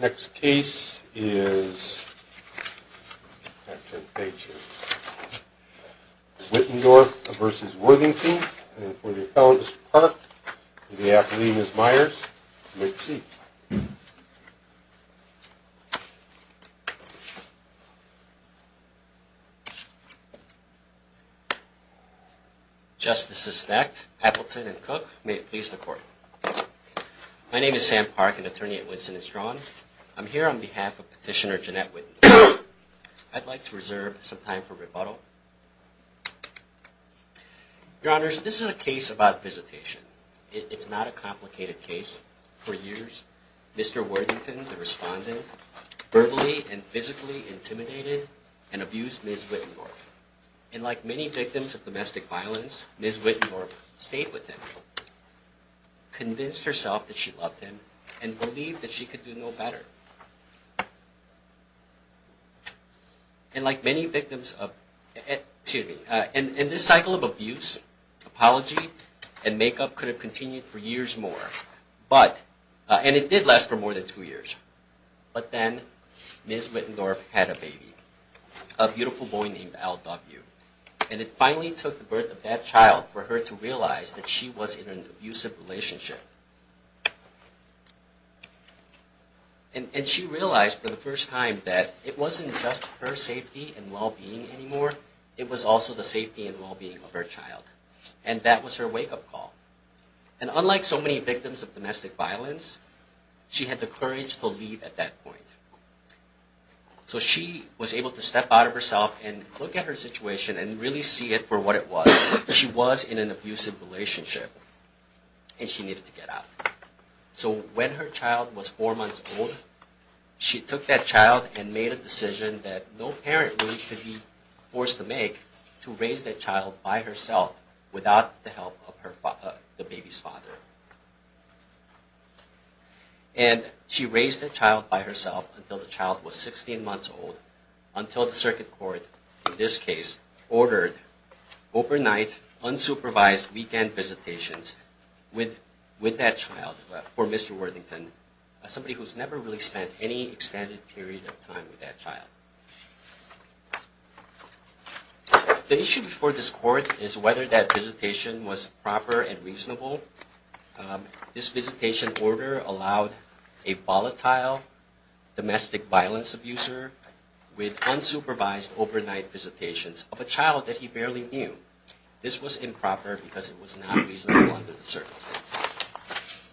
Next case is Wittendorf v. Worthington for the Appellant Mr. Park and the Appellant Ms. Myers, you may proceed. Mr. Park and Ms. Myers, you may proceed. Mr. Park and Ms. Myers, you may proceed. Mr. Park and Ms. Myers, you may proceed. Mr. Worthington, the Respondent, verbally and physically intimidated and abused Ms. Wittendorf. And like many victims of domestic violence, Ms. Wittendorf stayed with him, convinced herself that she loved him, and believed that she could do no better. And like many victims of, excuse me, in this cycle of abuse, apology and make-up could have continued for years more. But, and it did last for more than two years. But then, Ms. Wittendorf had a baby, a beautiful boy named LW. And it finally took the birth of that child for her to realize that she was in an abusive relationship. And she realized for the first time that it wasn't just her safety and well-being anymore, it was also the safety and well-being of her child. And that was her wake-up call. And unlike so many victims of domestic violence, she had the courage to leave at that point. So she was able to step out of herself and look at her situation and really see it for what it was. She was in an abusive relationship. And she needed to get out. So when her child was four months old, she took that child and made a decision that no parent really should be forced to make to raise that child by herself without the help of the baby's father. And she raised that child by herself until the child was 16 months old, until the circuit court, in this case, ordered overnight, unsupervised weekend visitations with that child for Mr. Worthington, somebody who's never really spent any extended period of time with that child. The issue before this court is whether that visitation was proper and reasonable. This visitation order allowed a volatile domestic violence abuser with unsupervised overnight visitations of a child that he barely knew. This was improper because it was not reasonable under the circumstances.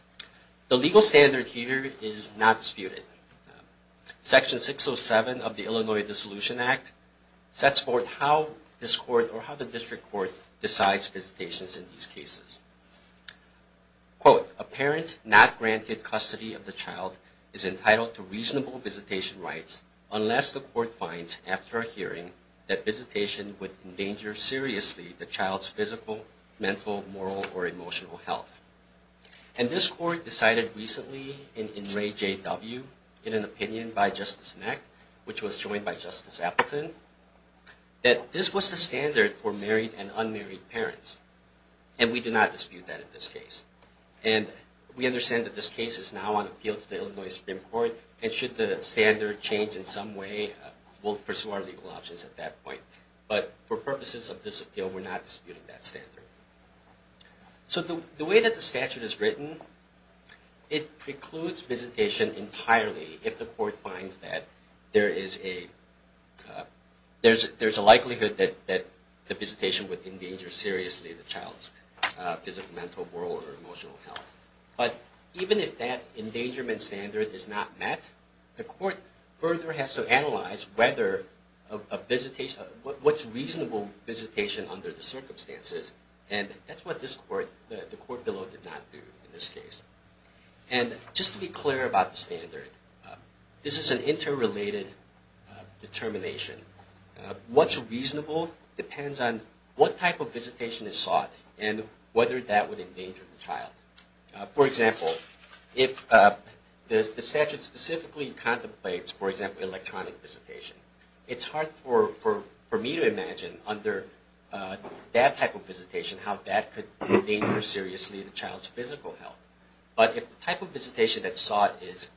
The legal standard here is not disputed. Section 607 of the Illinois Dissolution Act sets forth how this court or how the district court decides visitations in these cases. Quote, a parent not granted custody of the child is entitled to reasonable visitation rights unless the court finds, after a hearing, that visitation would endanger seriously the child's physical, mental, moral, or emotional health. And this court decided recently in Ray J. W., in an opinion by Justice Neck, which was joined by Justice Appleton, that this was the standard for married and unmarried parents. And we do not dispute that in this case. And we understand that this case is now on appeal to the Illinois Supreme Court, and should the standard change in some way, we'll pursue our legal options at that point. But for purposes of this appeal, we're not disputing that standard. So the way that the statute is written, it precludes visitation entirely if the court finds that there is a likelihood that the visitation would endanger seriously the child's physical, mental, moral, or emotional health. But even if that endangerment standard is not met, the court further has to analyze what's reasonable visitation under the circumstances. And that's what the court below did not do in this case. And just to be clear about the standard, this is an interrelated determination. What's reasonable depends on what type of visitation is sought and whether that would endanger the child. For example, if the statute specifically contemplates, for example, electronic visitation, it's hard for me to imagine under that type of visitation how that could endanger seriously the child's physical health. But if the type of visitation that's sought is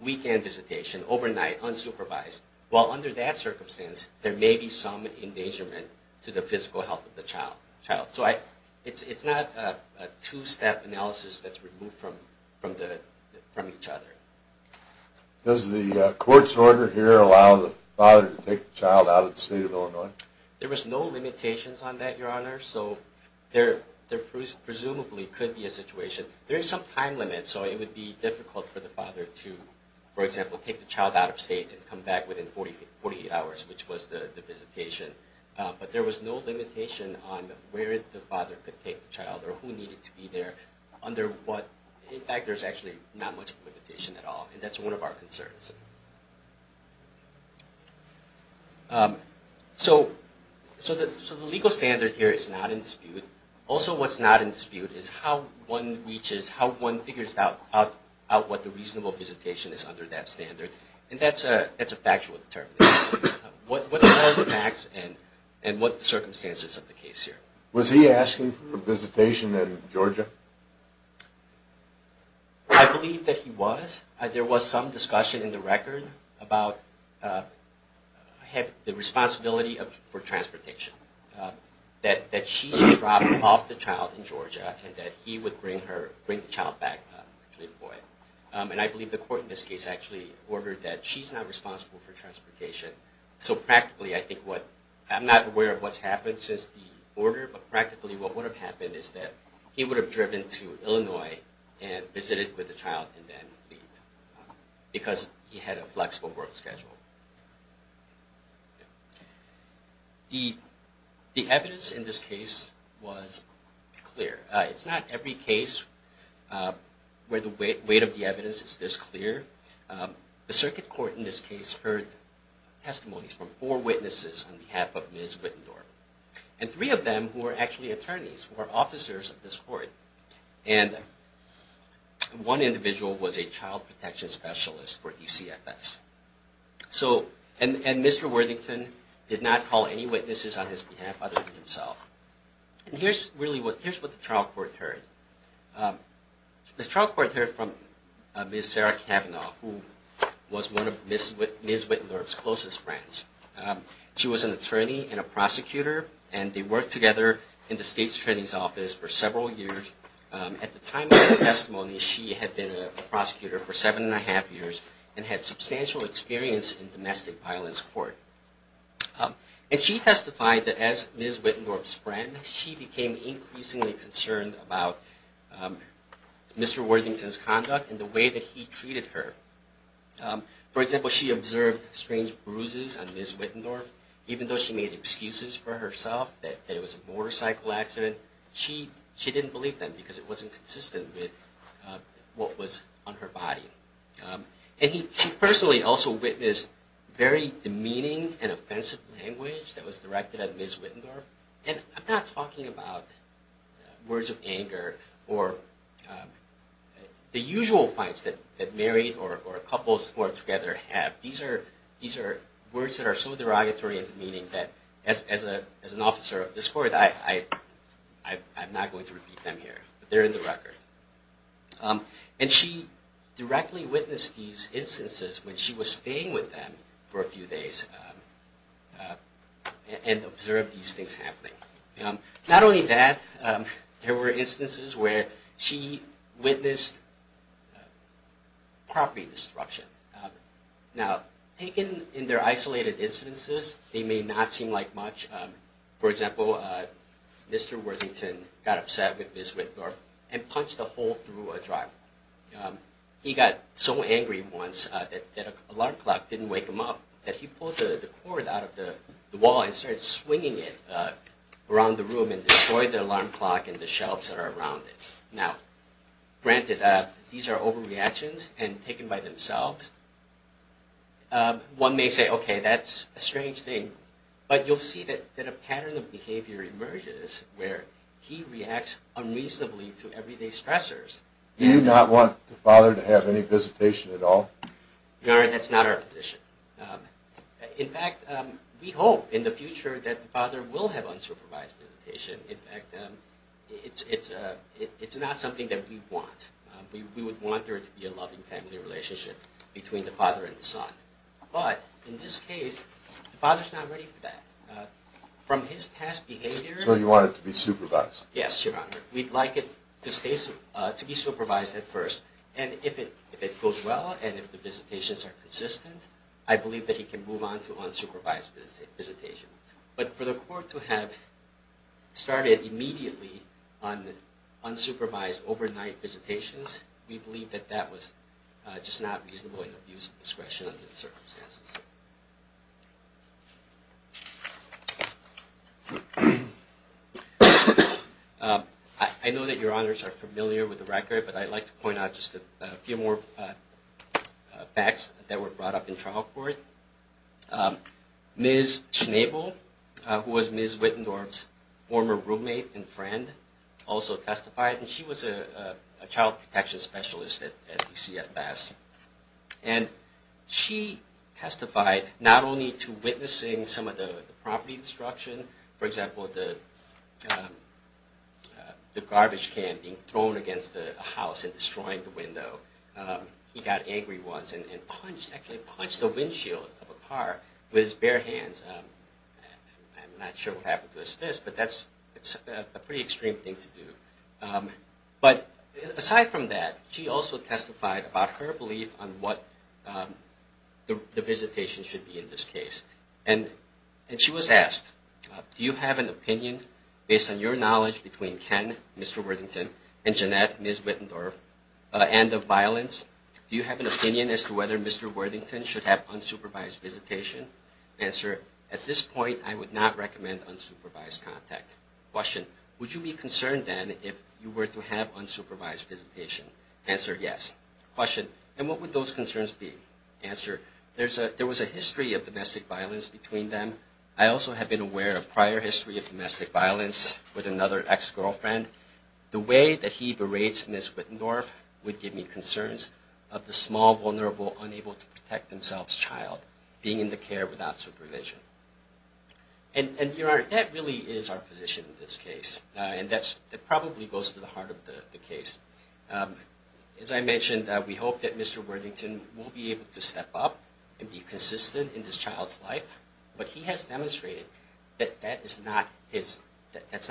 weekend visitation, overnight, unsupervised, well under that circumstance, there may be some endangerment to the physical health of the child. So it's not a two-step analysis that's removed from each other. Does the court's order here allow the father to take the child out of the state of Illinois? There was no limitations on that, Your Honor. So there presumably could be a situation. There is some time limit, so it would be difficult for the father to, for example, take the child out of state and come back within 48 hours, which was the visitation. But there was no limitation on where the father could take the child or who needed to be there under what, in fact, there's actually not much limitation at all. And that's one of our concerns. So the legal standard here is not in dispute. Also what's not in dispute is how one reaches, how one figures out what the reasonable visitation is under that standard. And that's a factual determination. What are the facts and what are the circumstances of the case here? Was he asking for visitation in Georgia? I believe that he was. There was some discussion in the record about the responsibility for transportation, that she should drop off the child in Georgia and that he would bring the child back to Illinois. And I believe the court in this case actually ordered that she's not responsible for transportation. So practically I think what, I'm not aware of what's happened since the order, but practically what would have happened is that he would have driven to Illinois and visited with the child and then leave because he had a flexible work schedule. The evidence in this case was clear. It's not every case where the weight of the evidence is this clear. The circuit court in this case heard testimonies from four witnesses on behalf of Ms. Wittendorf. And three of them were actually attorneys, were officers of this court. And one individual was a child protection specialist for DCFS. And Mr. Worthington did not call any witnesses on his behalf other than himself. And here's really what the trial court heard. The trial court heard from Ms. Sarah Kavanaugh, who was one of Ms. Wittendorf's closest friends. She was an attorney and a prosecutor, and they worked together in the state attorney's office for several years. At the time of the testimony, she had been a prosecutor for seven and a half years and had substantial experience in domestic violence court. And she testified that as Ms. Wittendorf's friend, she became increasingly concerned about Mr. Worthington's conduct and the way that he treated her. For example, she observed strange bruises on Ms. Wittendorf. Even though she made excuses for herself that it was a motorcycle accident, she didn't believe them because it wasn't consistent with what was on her body. And she personally also witnessed very demeaning and offensive language that was directed at Ms. Wittendorf. And I'm not talking about words of anger or the usual fights that married or couples who are together have. These are words that are so derogatory and demeaning that as an officer of this court, I'm not going to repeat them here, but they're in the record. And she directly witnessed these instances when she was staying with them for a few days and observed these things happening. Not only that, there were instances where she witnessed property destruction. Now, taken in their isolated instances, they may not seem like much. For example, Mr. Worthington got upset with Ms. Wittendorf and punched a hole through a driveway. He got so angry once that an alarm clock didn't wake him up that he pulled the cord out of the wall and started swinging it around the room and destroyed the alarm clock and the shelves that are around it. Now, granted, these are overreactions and taken by themselves. One may say, okay, that's a strange thing. But you'll see that a pattern of behavior emerges where he reacts unreasonably to everyday stressors. Do you not want the father to have any visitation at all? No, that's not our position. In fact, we hope in the future that the father will have unsupervised visitation. In fact, it's not something that we want. We would want there to be a loving family relationship between the father and the son. But in this case, the father's not ready for that. From his past behavior— So you want it to be supervised? Yes, Your Honor. We'd like it to be supervised at first. And if it goes well and if the visitations are consistent, I believe that he can move on to unsupervised visitation. But for the court to have started immediately on unsupervised overnight visitations, we believe that that was just not reasonable and abuse of discretion under the circumstances. I know that Your Honors are familiar with the record, but I'd like to point out just a few more facts that were brought up in trial court. Ms. Schnabel, who was Ms. Wittendorf's former roommate and friend, also testified. And she was a child protection specialist at DCFS. And she testified not only to witnessing some of the property destruction— for example, the garbage can being thrown against the house and destroying the window. He got angry once and actually punched the windshield of a car with his bare hands. I'm not sure what happened to his fist, but that's a pretty extreme thing to do. But aside from that, she also testified about her belief on what the visitation should be in this case. And she was asked, Do you have an opinion, based on your knowledge between Ken, Mr. Worthington, and Jeanette, Ms. Wittendorf, and of violence? Do you have an opinion as to whether Mr. Worthington should have unsupervised visitation? Answer, at this point, I would not recommend unsupervised contact. Question, would you be concerned then if you were to have unsupervised visitation? Answer, yes. Question, and what would those concerns be? Answer, there was a history of domestic violence between them. I also have been aware of prior history of domestic violence with another ex-girlfriend. The way that he berates Ms. Wittendorf would give me concerns of the small, vulnerable, unable-to-protect-themselves child being in the care without supervision. And, Your Honor, that really is our position in this case. And that probably goes to the heart of the case. As I mentioned, we hope that Mr. Worthington will be able to step up and be consistent in his child's life. But he has demonstrated that that is not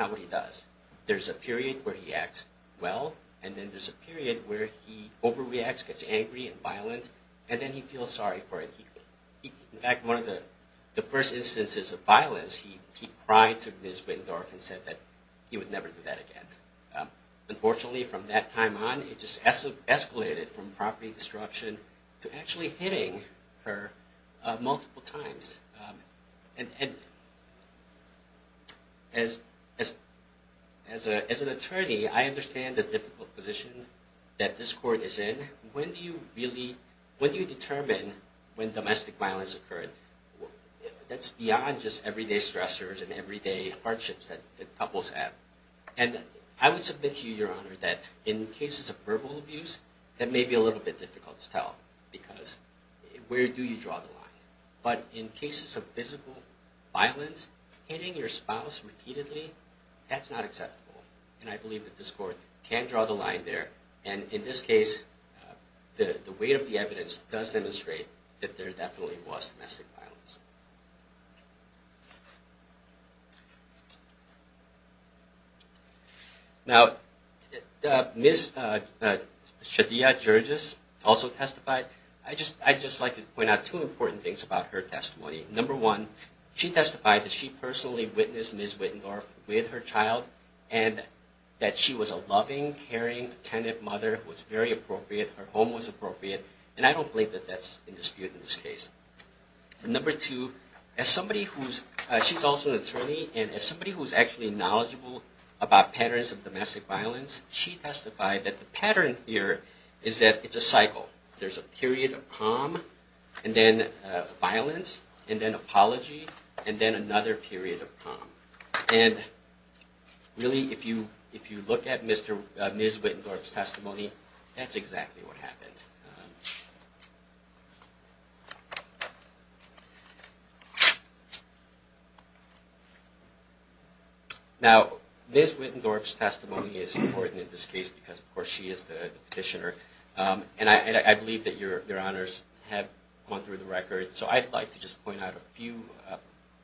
what he does. There's a period where he acts well, and then there's a period where he overreacts, gets angry and violent, and then he feels sorry for it. In fact, one of the first instances of violence, he cried to Ms. Wittendorf and said that he would never do that again. Unfortunately, from that time on, it just escalated from property disruption to actually hitting her multiple times. And as an attorney, I understand the difficult position that this court is in. When do you determine when domestic violence occurred? That's beyond just everyday stressors and everyday hardships that couples have. And I would submit to you, Your Honor, that in cases of verbal abuse, that may be a little bit difficult to tell, because where do you draw the line? But in cases of physical violence, hitting your spouse repeatedly, that's not acceptable. And I believe that this court can draw the line there. And in this case, the weight of the evidence does demonstrate that there definitely was domestic violence. Now, Ms. Shadia Jurgis also testified. I'd just like to point out two important things about her testimony. Number one, she testified that she personally witnessed Ms. Wittendorf with her child, and that she was a loving, caring, attentive mother who was very appropriate. Her home was appropriate. And I don't believe that that's in dispute in this case. Number two, she's also an attorney, and as somebody who's actually knowledgeable about patterns of domestic violence, she testified that the pattern here is that it's a cycle. There's a period of calm, and then violence, and then apology, and then another period of calm. And really, if you look at Ms. Wittendorf's testimony, that's exactly what happened. Now, Ms. Wittendorf's testimony is important in this case because, of course, she is the petitioner. And I believe that Your Honors have gone through the record. So I'd like to just point out a few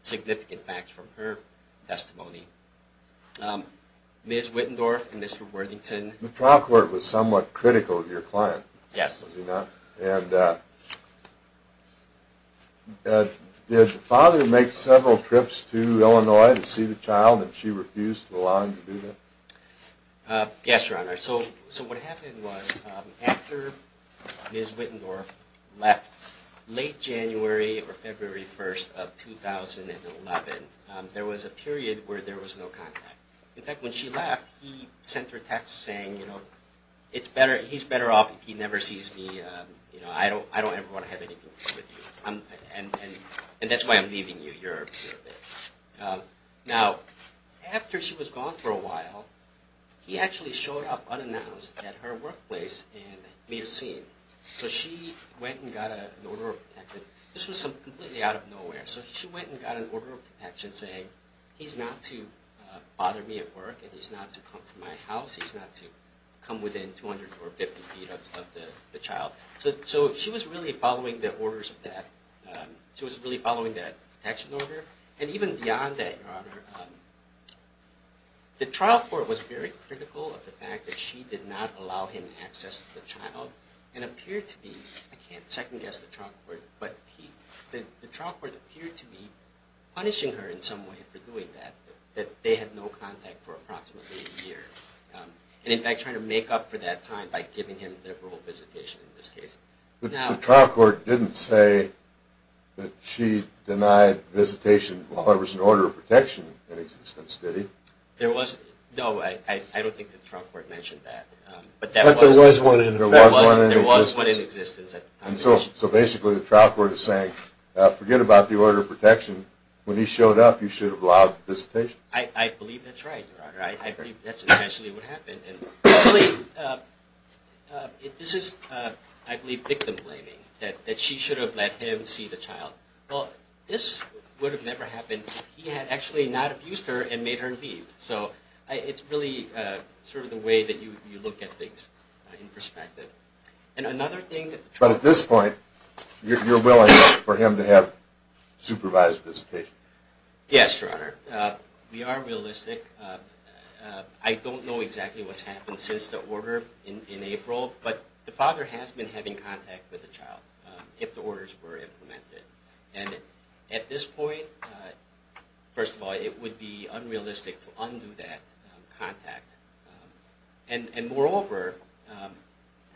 significant facts from her testimony. Ms. Wittendorf and Mr. Worthington. The trial court was somewhat critical of your client, was he not? Yes. And did the father make several trips to Illinois to see the child, and she refused to allow him to do that? Yes, Your Honor. So what happened was after Ms. Wittendorf left late January or February 1st of 2011, there was a period where there was no contact. In fact, when she left, he sent her a text saying, you know, he's better off if he never sees me. I don't ever want to have anything to do with you. And that's why I'm leaving you. Now, after she was gone for a while, he actually showed up unannounced at her workplace in Milcine. So she went and got an order of protection. This was completely out of nowhere. So she went and got an order of protection saying he's not to bother me at work and he's not to come to my house. He's not to come within 200 or 250 feet of the child. So she was really following the orders of that. She was really following that protection order. And even beyond that, Your Honor, the trial court was very critical of the fact that she did not allow him access to the child. I can't second guess the trial court, but the trial court appeared to be punishing her in some way for doing that, that they had no contact for approximately a year. And in fact, trying to make up for that time by giving him liberal visitation in this case. The trial court didn't say that she denied visitation while there was an order of protection in existence, did he? No, I don't think the trial court mentioned that. In fact, there was one in existence. There was one in existence. So basically, the trial court is saying forget about the order of protection. When he showed up, you should have allowed visitation. I believe that's right, Your Honor. I believe that's essentially what happened. This is, I believe, victim-blaming, that she should have let him see the child. Well, this would have never happened if he had actually not abused her and made her leave. So it's really sort of the way that you look at things in perspective. But at this point, you're willing for him to have supervised visitation? Yes, Your Honor. We are realistic. I don't know exactly what's happened since the order in April, but the father has been having contact with the child if the orders were implemented. And at this point, first of all, it would be unrealistic to undo that contact. And moreover,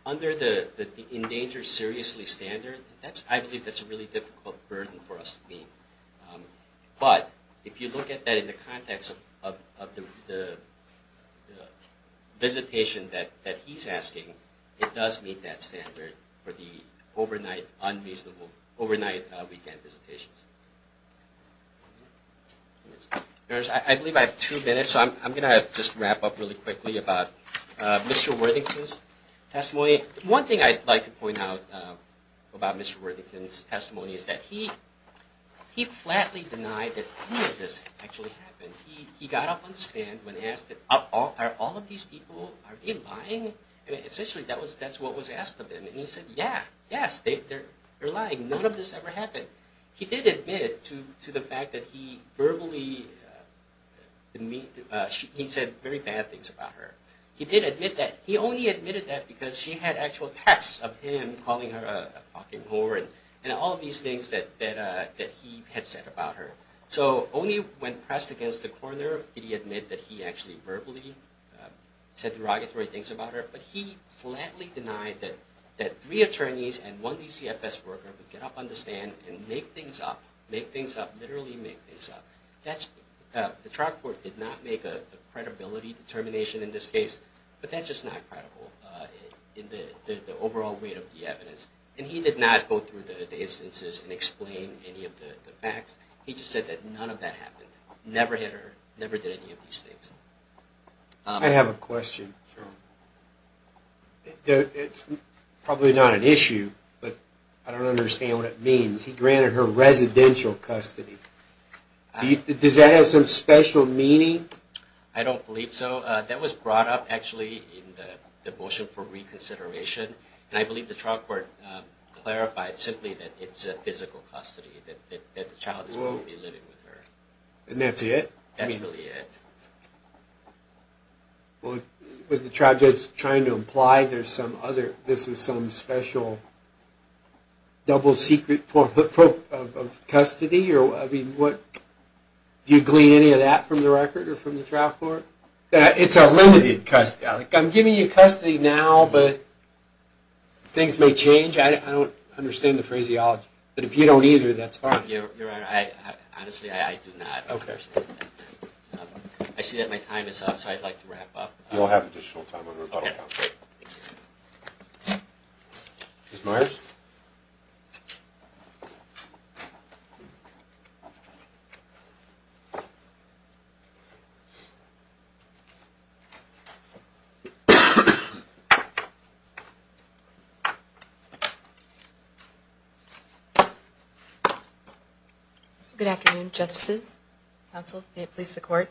under the endangered seriously standard, I believe that's a really difficult burden for us to meet. But if you look at that in the context of the visitation that he's asking, it does meet that standard for the overnight weekend visitations. I believe I have two minutes, so I'm going to just wrap up really quickly about Mr. Worthington's testimony. One thing I'd like to point out about Mr. Worthington's testimony is that he flatly denied that any of this actually happened. He got up on the stand when asked, are all of these people, are they lying? Essentially, that's what was asked of him. And he said, yeah, yes, they're lying. None of this ever happened. He did admit to the fact that he verbally said very bad things about her. He did admit that. He only admitted that because she had actual texts of him calling her a fucking whore and all of these things that he had said about her. So only when pressed against the corner did he admit that he actually verbally said derogatory things about her. But he flatly denied that three attorneys and one DCFS worker would get up on the stand and make things up, literally make things up. The trial court did not make a credibility determination in this case, but that's just not credible in the overall weight of the evidence. And he did not go through the instances and explain any of the facts. He just said that none of that happened, never hit her, never did any of these things. I have a question, Jerome. It's probably not an issue, but I don't understand what it means. He granted her residential custody. Does that have some special meaning? I don't believe so. That was brought up, actually, in the motion for reconsideration. And I believe the trial court clarified simply that it's a physical custody, that the child is going to be living with her. And that's it? That's really it. Was the trial judge trying to imply this is some special double secret form of custody? Do you glean any of that from the record or from the trial court? It's a limited custody. I'm giving you custody now, but things may change. I don't understand the phraseology. But if you don't either, that's fine. Your Honor, honestly, I do not understand that. I see that my time is up, so I'd like to wrap up. You'll have additional time under rebuttal. Ms. Myers? Good afternoon, Justices, Counsel, may it please the Court.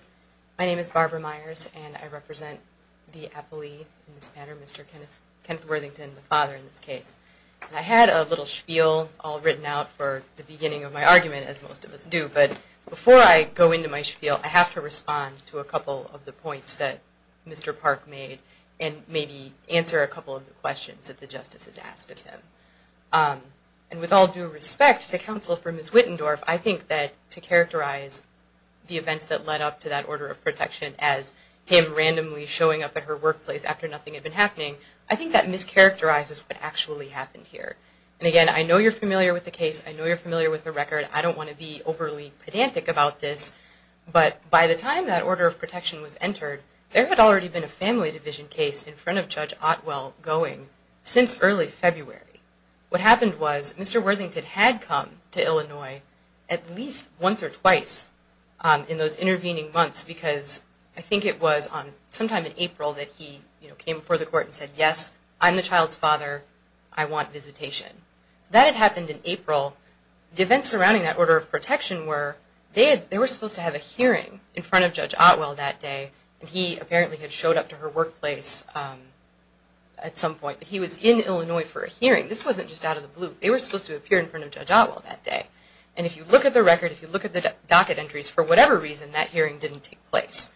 My name is Barbara Myers, and I represent the appellee in this matter, Mr. Kenneth Worthington, the father in this case. And I had a little spiel all written out for the beginning of my argument, as most of us do. But before I go into my spiel, I have to respond to a couple of the points that Mr. Park made and maybe answer a couple of the questions that the Justice has asked of him. And with all due respect to Counsel for Ms. Wittendorf, I think that to characterize the events that led up to that order of protection as him randomly showing up at her workplace after nothing had been happening, I think that mischaracterizes what actually happened here. And, again, I know you're familiar with the case. I know you're familiar with the record. I don't want to be overly pedantic about this. But by the time that order of protection was entered, there had already been a family division case in front of Judge Otwell going since early February. What happened was Mr. Worthington had come to Illinois at least once or twice in those intervening months because I think it was sometime in April that he came before the Court and said, yes, I'm the child's father, I want visitation. That had happened in April. The events surrounding that order of protection were, they were supposed to have a hearing in front of Judge Otwell that day. He apparently had showed up to her workplace at some point. He was in Illinois for a hearing. This wasn't just out of the blue. They were supposed to appear in front of Judge Otwell that day. And if you look at the record, if you look at the docket entries, for whatever reason that hearing didn't take place.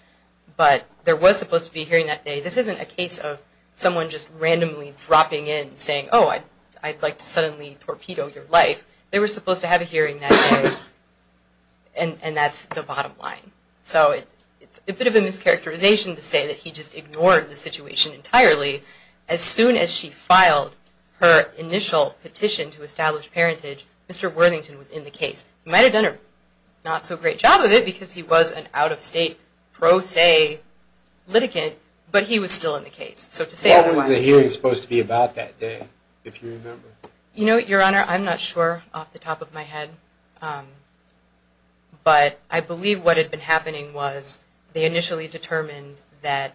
But there was supposed to be a hearing that day. This isn't a case of someone just randomly dropping in and saying, oh, I'd like to suddenly torpedo your life. They were supposed to have a hearing that day. And that's the bottom line. So it's a bit of a mischaracterization to say that he just ignored the situation entirely. As soon as she filed her initial petition to establish parentage, Mr. Worthington was in the case. He might have done a not so great job of it because he was an out-of-state pro se litigant, but he was still in the case. What was the hearing supposed to be about that day, if you remember? You know, Your Honor, I'm not sure off the top of my head. But I believe what had been happening was they initially determined that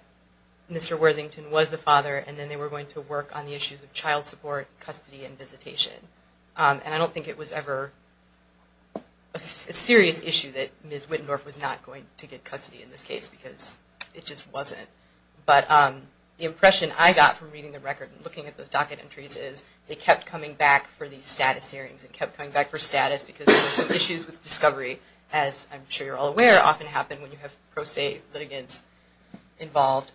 Mr. Worthington was the father, and then they were going to work on the issues of child support, custody, and visitation. And I don't think it was ever a serious issue that Ms. Wittendorf was not going to get custody in this case because it just wasn't. But the impression I got from reading the record and looking at those docket entries is they kept coming back for the status hearings and kept coming back for status because there were some issues with discovery, as I'm sure you're all aware, often happen when you have pro se litigants involved.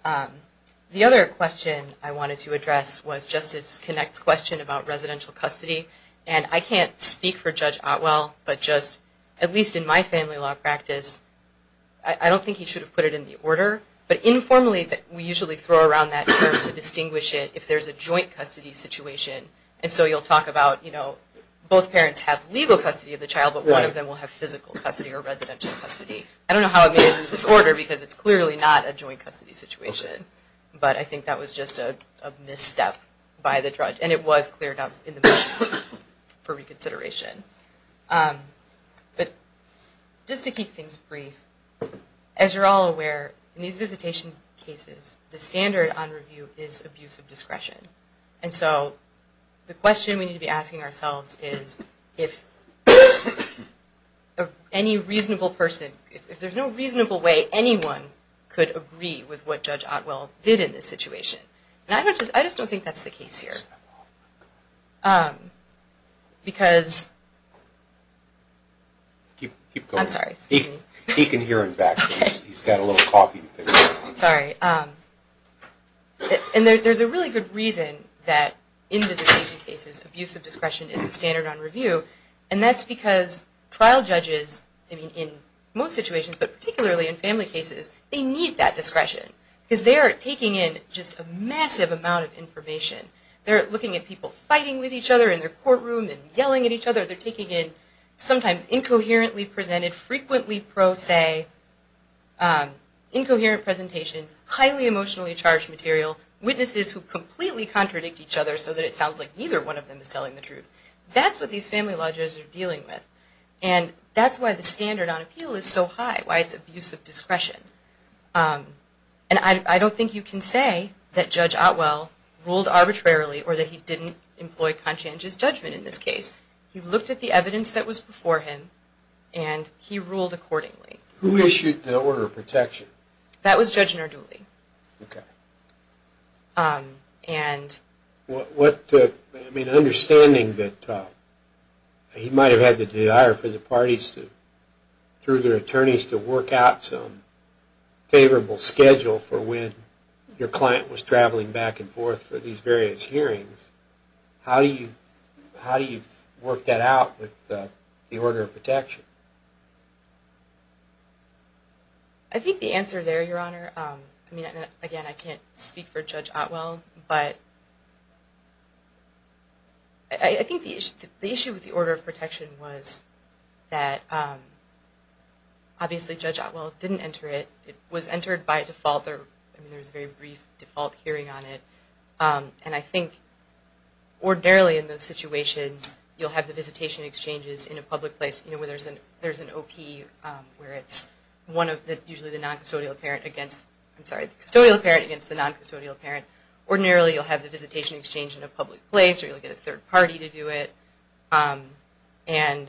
The other question I wanted to address was Justice Connacht's question about residential custody. And I can't speak for Judge Otwell, but just at least in my family law practice, I don't think he should have put it in the order. But informally, we usually throw around that term to distinguish it if there's a joint custody situation. And so you'll talk about both parents have legal custody of the child, but one of them will have physical custody or residential custody. I don't know how it made it in this order because it's clearly not a joint custody situation. But I think that was just a misstep by the judge. And it was cleared up in the motion for reconsideration. But just to keep things brief, as you're all aware, in these visitation cases, the standard on review is abuse of discretion. And so the question we need to be asking ourselves is if any reasonable person, if there's no reasonable way anyone could agree with what Judge Otwell did in this situation. And I just don't think that's the case here. Because... I'm sorry. He can hear it back. He's got a little coffee. Sorry. And there's a really good reason that in visitation cases, abuse of discretion is the standard on review. And that's because trial judges in most situations, but particularly in family cases, they need that discretion because they are taking in just a massive amount of information. They're looking at people fighting with each other in their courtroom and yelling at each other. They're taking in sometimes incoherently presented, frequently pro se, incoherent presentations, highly emotionally charged material, witnesses who completely contradict each other so that it sounds like neither one of them is telling the truth. That's what these family law judges are dealing with. And that's why the standard on appeal is so high, why it's abuse of discretion. And I don't think you can say that Judge Otwell ruled arbitrarily or that he didn't employ conscientious judgment in this case. He looked at the evidence that was before him and he ruled accordingly. Who issued the order of protection? That was Judge Narduli. Okay. And... What took... I mean, understanding that he might have had to hire for the parties to work out some favorable schedule for when your client was traveling back and forth for these various hearings, how do you work that out with the order of protection? I think the answer there, Your Honor, I mean, again, I can't speak for Judge Otwell, but I think the issue with the order of protection was that the judge, obviously Judge Otwell didn't enter it. It was entered by default. There was a very brief default hearing on it. And I think ordinarily in those situations you'll have the visitation exchanges in a public place where there's an OP where it's one of the, usually the noncustodial parent against, I'm sorry, the custodial parent against the noncustodial parent. Ordinarily you'll have the visitation exchange in a public place or you'll get a third party to do it. And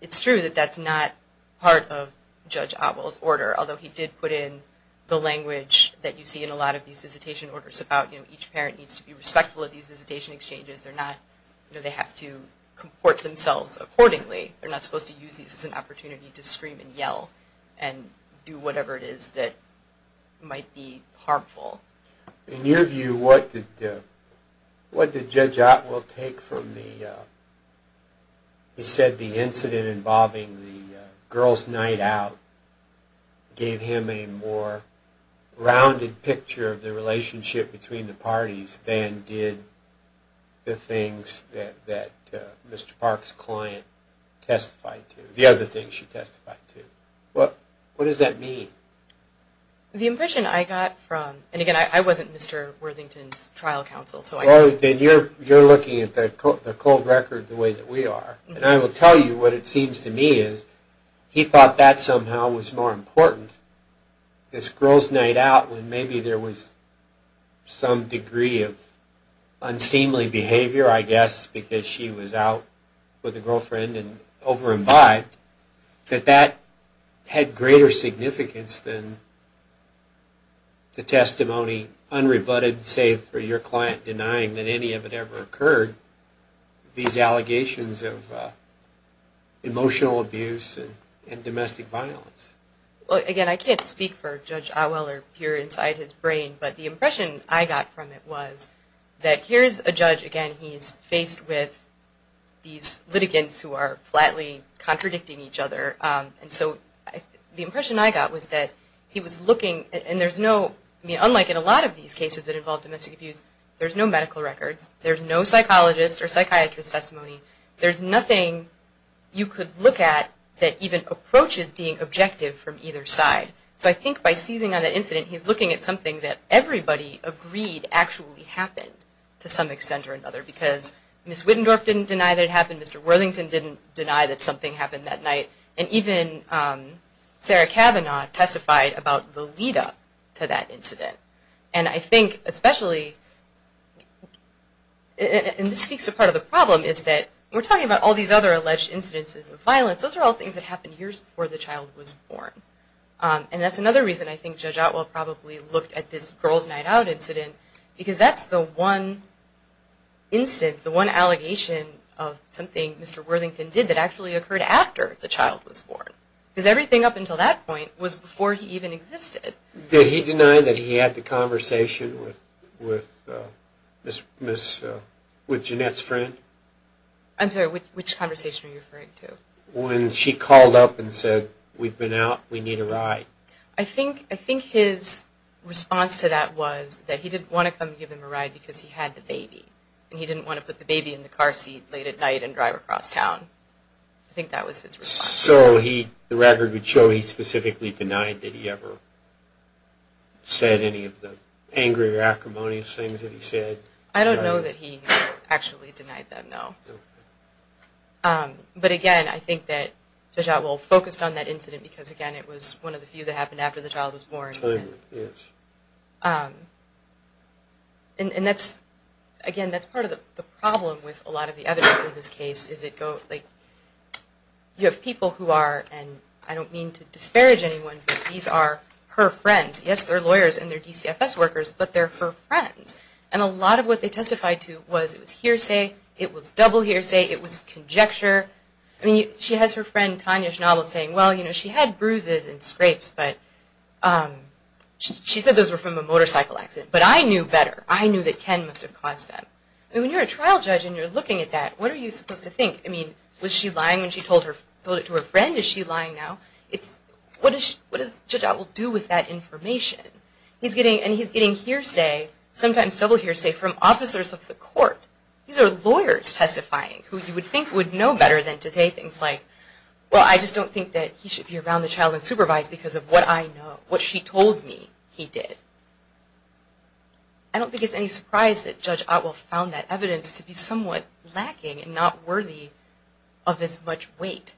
it's true that that's not part of Judge Otwell's order. Although he did put in the language that you see in a lot of these visitation orders about, you know, each parent needs to be respectful of these visitation exchanges. They're not, you know, they have to comport themselves accordingly. They're not supposed to use these as an opportunity to scream and yell and do whatever it is that might be harmful. In your view, what did Judge Otwell take from the, he said the incident involving the girls' night out gave him a more rounded picture of the relationship between the parties than did the things that Mr. Parks' client testified to, the other things she testified to. What does that mean? The impression I got from, and again, I wasn't Mr. Worthington's trial counsel, so I can't. Well, then you're looking at the cold record the way that we are. And I will tell you what it seems to me is he thought that somehow was more important. This girls' night out when maybe there was some degree of unseemly behavior, I guess, because she was out with a girlfriend and over-imbibed, that that had greater significance than the testimony unrebutted, save for your client denying that any of it ever occurred, these allegations of emotional abuse and domestic violence. Again, I can't speak for Judge Otwell or peer inside his brain, but the impression I got from it was that here's a judge, again, he's faced with these litigants who are flatly contradicting each other, and so the impression I got was that he was looking, and there's no, I mean, unlike in a lot of these cases that involve domestic abuse, there's no medical records, there's no psychologist or psychiatrist testimony, there's nothing you could look at that even approaches being objective from either side. So I think by seizing on that incident, he's looking at something that everybody agreed actually happened to some extent or another because Ms. Otwell didn't deny that it happened, Mr. Worthington didn't deny that something happened that night, and even Sarah Cavanaugh testified about the lead-up to that incident. And I think especially, and this speaks to part of the problem, is that we're talking about all these other alleged incidences of violence, those are all things that happened years before the child was born. And that's another reason I think Judge Otwell probably looked at this as the one instance, the one allegation of something Mr. Worthington did that actually occurred after the child was born. Because everything up until that point was before he even existed. Did he deny that he had the conversation with Jeanette's friend? I'm sorry, which conversation are you referring to? When she called up and said, we've been out, we need a ride. I think his response to that was that he didn't want to come give him a ride because he had the baby, and he didn't want to put the baby in the car seat late at night and drive across town. I think that was his response. So the record would show he specifically denied that he ever said any of the angry or acrimonious things that he said. I don't know that he actually denied that, no. But again, I think that Judge Otwell focused on that incident because, again, it was one of the few that happened after the child was born. And, again, that's part of the problem with a lot of the evidence in this case. You have people who are, and I don't mean to disparage anyone, but these are her friends. Yes, they're lawyers and they're DCFS workers, but they're her friends. And a lot of what they testified to was hearsay, it was double hearsay, it was conjecture. I mean, she has her friend Tanya Schnabel saying, well, you know, she had bruises and scrapes, but she said those were from a motorcycle accident. But I knew better. I knew that Ken must have caused that. I mean, when you're a trial judge and you're looking at that, what are you supposed to think? I mean, was she lying when she told it to her friend? Is she lying now? What does Judge Otwell do with that information? And he's getting hearsay, sometimes double hearsay, from officers of the court. These are lawyers testifying who you would think would know better than to say things like, well, I just don't think that he should be around the child and supervised because of what I know, what she told me he did. I don't think it's any surprise that Judge Otwell found that evidence to be somewhat lacking and not worthy of this much weight.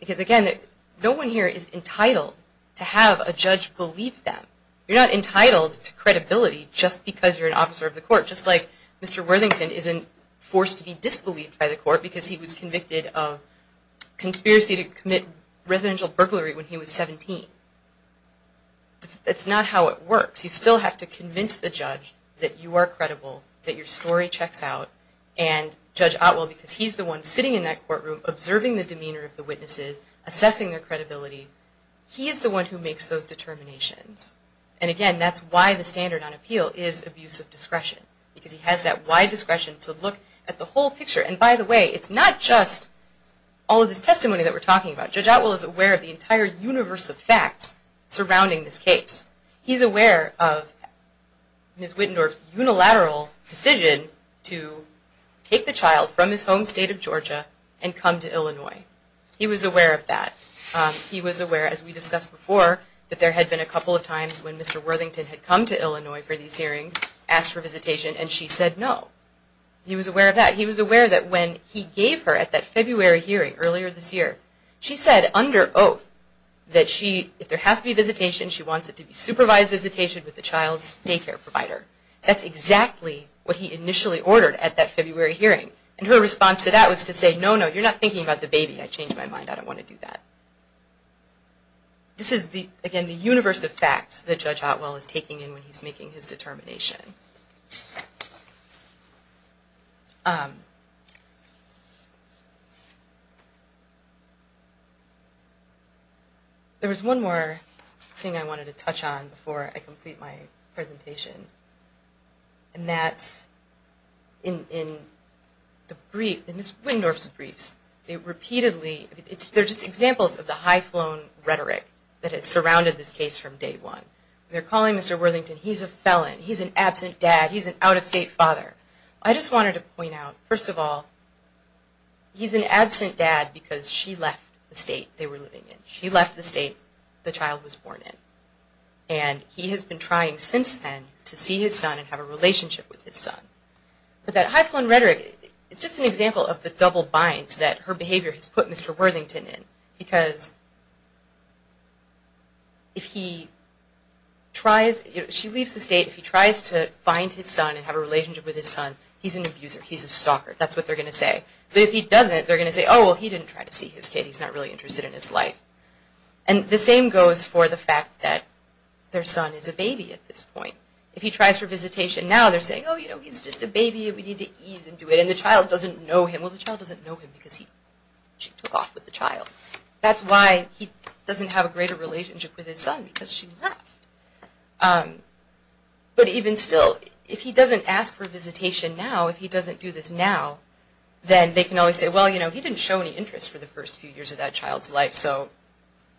Because, again, no one here is entitled to have a judge believe them. You're not entitled to credibility just because you're an officer of the court, just like Mr. Worthington isn't forced to be disbelieved by the court because he was convicted of conspiracy to commit residential burglary when he was 17. That's not how it works. You still have to convince the judge that you are credible, that your story checks out, and Judge Otwell, because he's the one sitting in that courtroom observing the demeanor of the witnesses, assessing their credibility, he is the one who makes those determinations. And, again, that's why the standard on appeal is abuse of discretion. Because he has that wide discretion to look at the whole picture. And, by the way, it's not just all of this testimony that we're talking about. Judge Otwell is aware of the entire universe of facts surrounding this case. He's aware of Ms. Wittendorf's unilateral decision to take the child from his home state of Georgia and come to Illinois. He was aware of that. He was aware, as we discussed before, that there had been a couple of times when Mr. Worthington had come to Illinois for these hearings, asked for visitation, and she said no. He was aware of that. He was aware that when he gave her at that February hearing earlier this year, she said under oath that if there has to be visitation, she wants it to be supervised visitation with the child's daycare provider. That's exactly what he initially ordered at that February hearing. And her response to that was to say, no, no, you're not thinking about the baby. I changed my mind. I don't want to do that. This is, again, the universe of facts that Judge Otwell is taking in when he's making his determination. There was one more thing I wanted to touch on before I complete my presentation, and that's in Ms. Wittendorf's briefs. There are just examples of the high-flown rhetoric that has surrounded this case from day one. They're calling Mr. Worthington, he's a felon, he's an absent dad, he's an out-of-state father. I just wanted to point out, first of all, he's an absent dad because she left the state they were living in. She left the state the child was born in. And he has been trying since then to see his son and have a relationship with his son. But that high-flown rhetoric, it's just an example of the double binds that her behavior has put Mr. Worthington in. Because if he tries, if she leaves the state, if he tries to find his son and have a relationship with his son, he's an abuser, he's a stalker. That's what they're going to say. But if he doesn't, they're going to say, oh, well, he didn't try to see his kid. He's not really interested in his life. And the same goes for the fact that their son is a baby at this point. If he tries for visitation now, they're saying, oh, you know, he's just a baby. We need to ease into it. And the child doesn't know him. Well, the child doesn't know him because she took off with the child. That's why he doesn't have a greater relationship with his son because she left. But even still, if he doesn't ask for visitation now, if he doesn't do this now, then they can always say, well, you know, he didn't show any interest for the first few years of that child's life. So,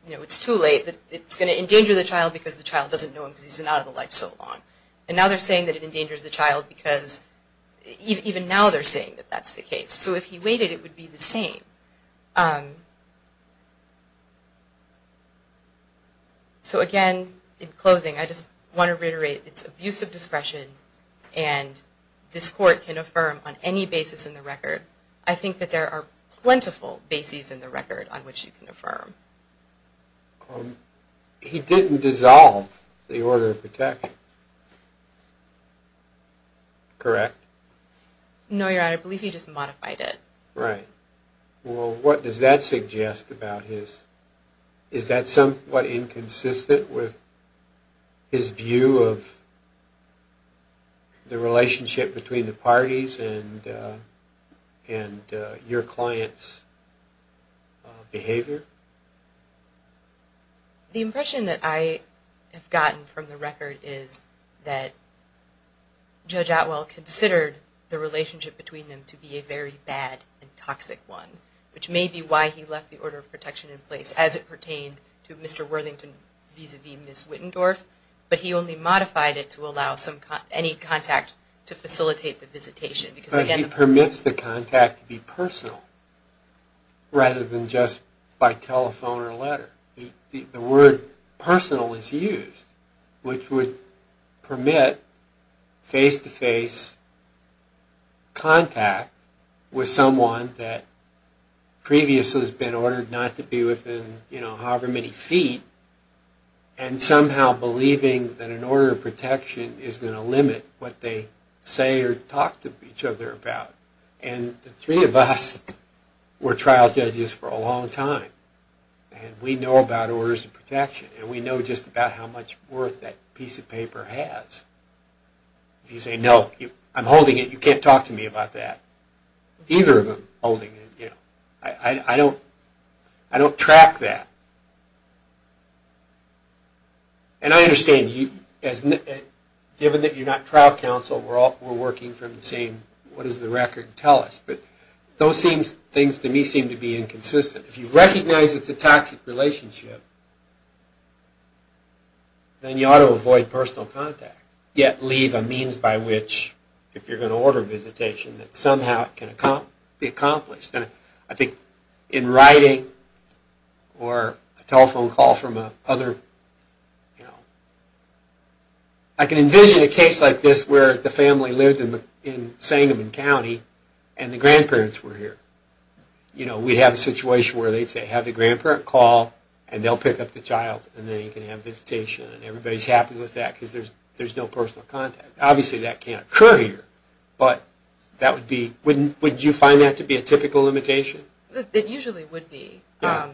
you know, it's too late. It's going to endanger the child because the child doesn't know him because he's been out of the life so long. And now they're saying that it endangers the child because even now they're saying that that's the case. So if he waited, it would be the same. So, again, in closing, I just want to reiterate it's abuse of discretion, and this court can affirm on any basis in the record. I think that there are plentiful bases in the record on which you can affirm. He didn't dissolve the order of protection, correct? No, Your Honor. I believe he just modified it. Right. Well, what does that suggest about his – is that somewhat inconsistent with his The impression that I have gotten from the record is that Judge Otwell considered the relationship between them to be a very bad and toxic one, which may be why he left the order of protection in place as it pertained to Mr. Worthington vis-a-vis Ms. Wittendorf, but he only modified it to allow any contact to facilitate the visitation. But he permits the contact to be personal rather than just by telephone or letter. The word personal is used, which would permit face-to-face contact with someone that previously has been ordered not to be within however many feet, and somehow believing that an order of protection is going to limit what they say or talk to each other about. And the three of us were trial judges for a long time, and we know about orders of protection, and we know just about how much worth that piece of paper has. If you say, no, I'm holding it, you can't talk to me about that. Either of them holding it, you know. I don't track that. And I understand, given that you're not trial counsel, we're working from the same, what does the record tell us? But those things to me seem to be inconsistent. If you recognize it's a toxic relationship, then you ought to avoid personal contact, yet leave a means by which, if you're going to order a visitation, that somehow it can be accomplished. And I think in writing, or a telephone call from a other, you know, I can envision a case like this where the family lived in Sangamon County, and the grandparents were here. You know, we'd have a situation where they'd say, have the grandparent call, and they'll pick up the child, and then you can have a visitation, and everybody's happy with that because there's no personal contact. Obviously, that can't occur here, but that would be, would you find that to be a typical limitation? It usually would be. The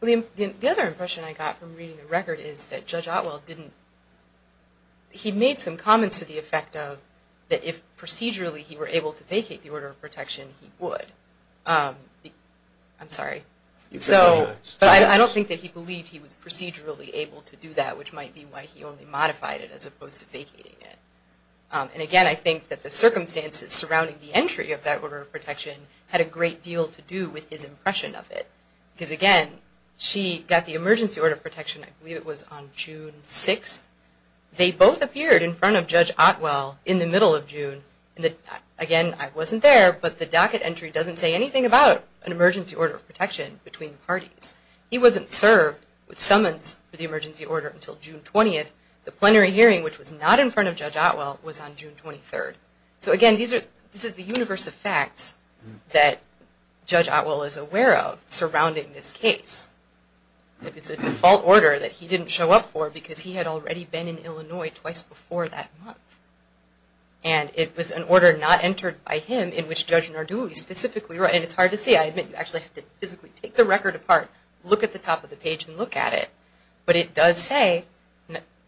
other impression I got from reading the record is that Judge Otwell didn't, he made some comments to the effect of that if procedurally he were able to vacate the order of protection, he would. I'm sorry. So, but I don't think that he believed he was procedurally able to do that, which might be why he only modified it as opposed to vacating it. And again, I think that the circumstances surrounding the entry of that order of protection had a great deal to do with his impression of it because, again, she got the emergency order of protection, I believe it was on June 6th. They both appeared in front of Judge Otwell in the middle of June. Again, I wasn't there, but the docket entry doesn't say anything about an emergency order of protection between parties. He wasn't served with summons for the emergency order until June 20th. The plenary hearing, which was not in front of Judge Otwell, was on June 23rd. So, again, this is the universe of facts that Judge Otwell is aware of surrounding this case. It's a default order that he didn't show up for because he had already been in Illinois twice before that month. And it was an order not entered by him in which Judge Narduli specifically wrote, and it's hard to see. I admit, you actually have to physically take the record apart, look at the top of the page and look at it. But it does say,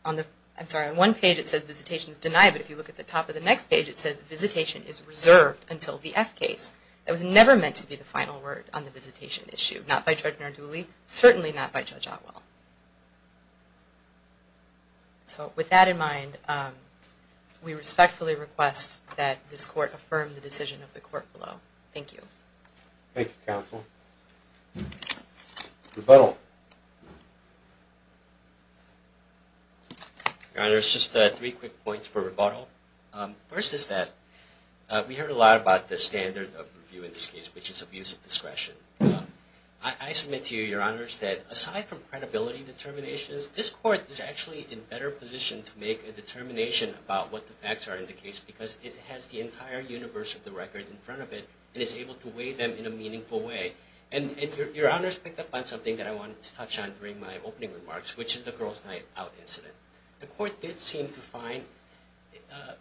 I'm sorry, on one page it says visitation is denied, but if you look at the top of the next page it says visitation is reserved until the F case. That was never meant to be the final word on the visitation issue, not by Judge Narduli, certainly not by Judge Otwell. So with that in mind, we respectfully request that this court affirm the decision of the court below. Thank you. Thank you, counsel. Rebuttal. Your Honor, it's just three quick points for rebuttal. First is that we heard a lot about the standard of review in this case, which is abuse of discretion. I submit to you, Your Honor, that aside from credibility determinations, this court is actually in better position to make a determination about what the facts are in the case because it has the entire universe of the record in front of it and is able to weigh them in a meaningful way. And Your Honor's picked up on something that I wanted to touch on during my opening remarks, which is the Girls' Night Out incident. The court did seem to find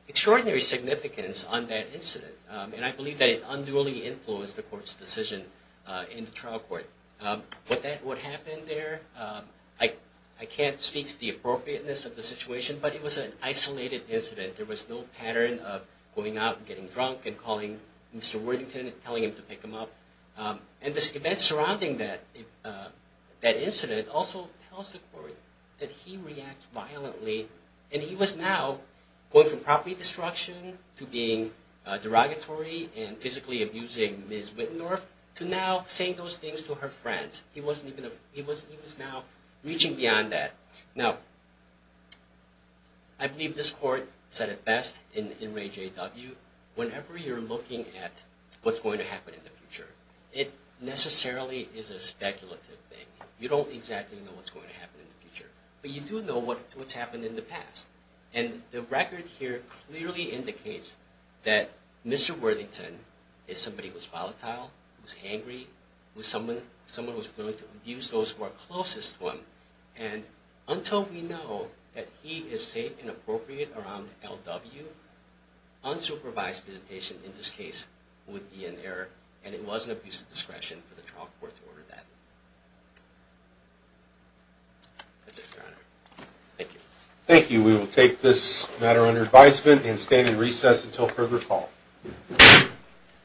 extraordinary significance on that incident, and I believe that it unduly influenced the court's decision in the trial court. What happened there, I can't speak to the appropriateness of the situation, but it was an isolated incident. There was no pattern of going out and getting drunk and calling Mr. Worthington and telling him to pick him up. And this event surrounding that incident also tells the court that he reacts violently, and he was now going from property destruction to being derogatory and physically abusing Ms. Wittendorf to now saying those things to her friends. He was now reaching beyond that. Now, I believe this court said it best in Ray J. W., whenever you're looking at what's going to happen in the future, it necessarily is a speculative thing. You don't exactly know what's going to happen in the future, but you do know what's happened in the past. And the record here clearly indicates that Mr. Worthington is somebody who's volatile, who's angry, someone who's willing to abuse those who are closest to him. And until we know that he is safe and appropriate around L.W., unsupervised visitation in this case would be an error, and it was an abuse of discretion for the trial court to order that. That's it, Your Honor. Thank you. Thank you. We will take this matter under advisement and stand in recess until further call.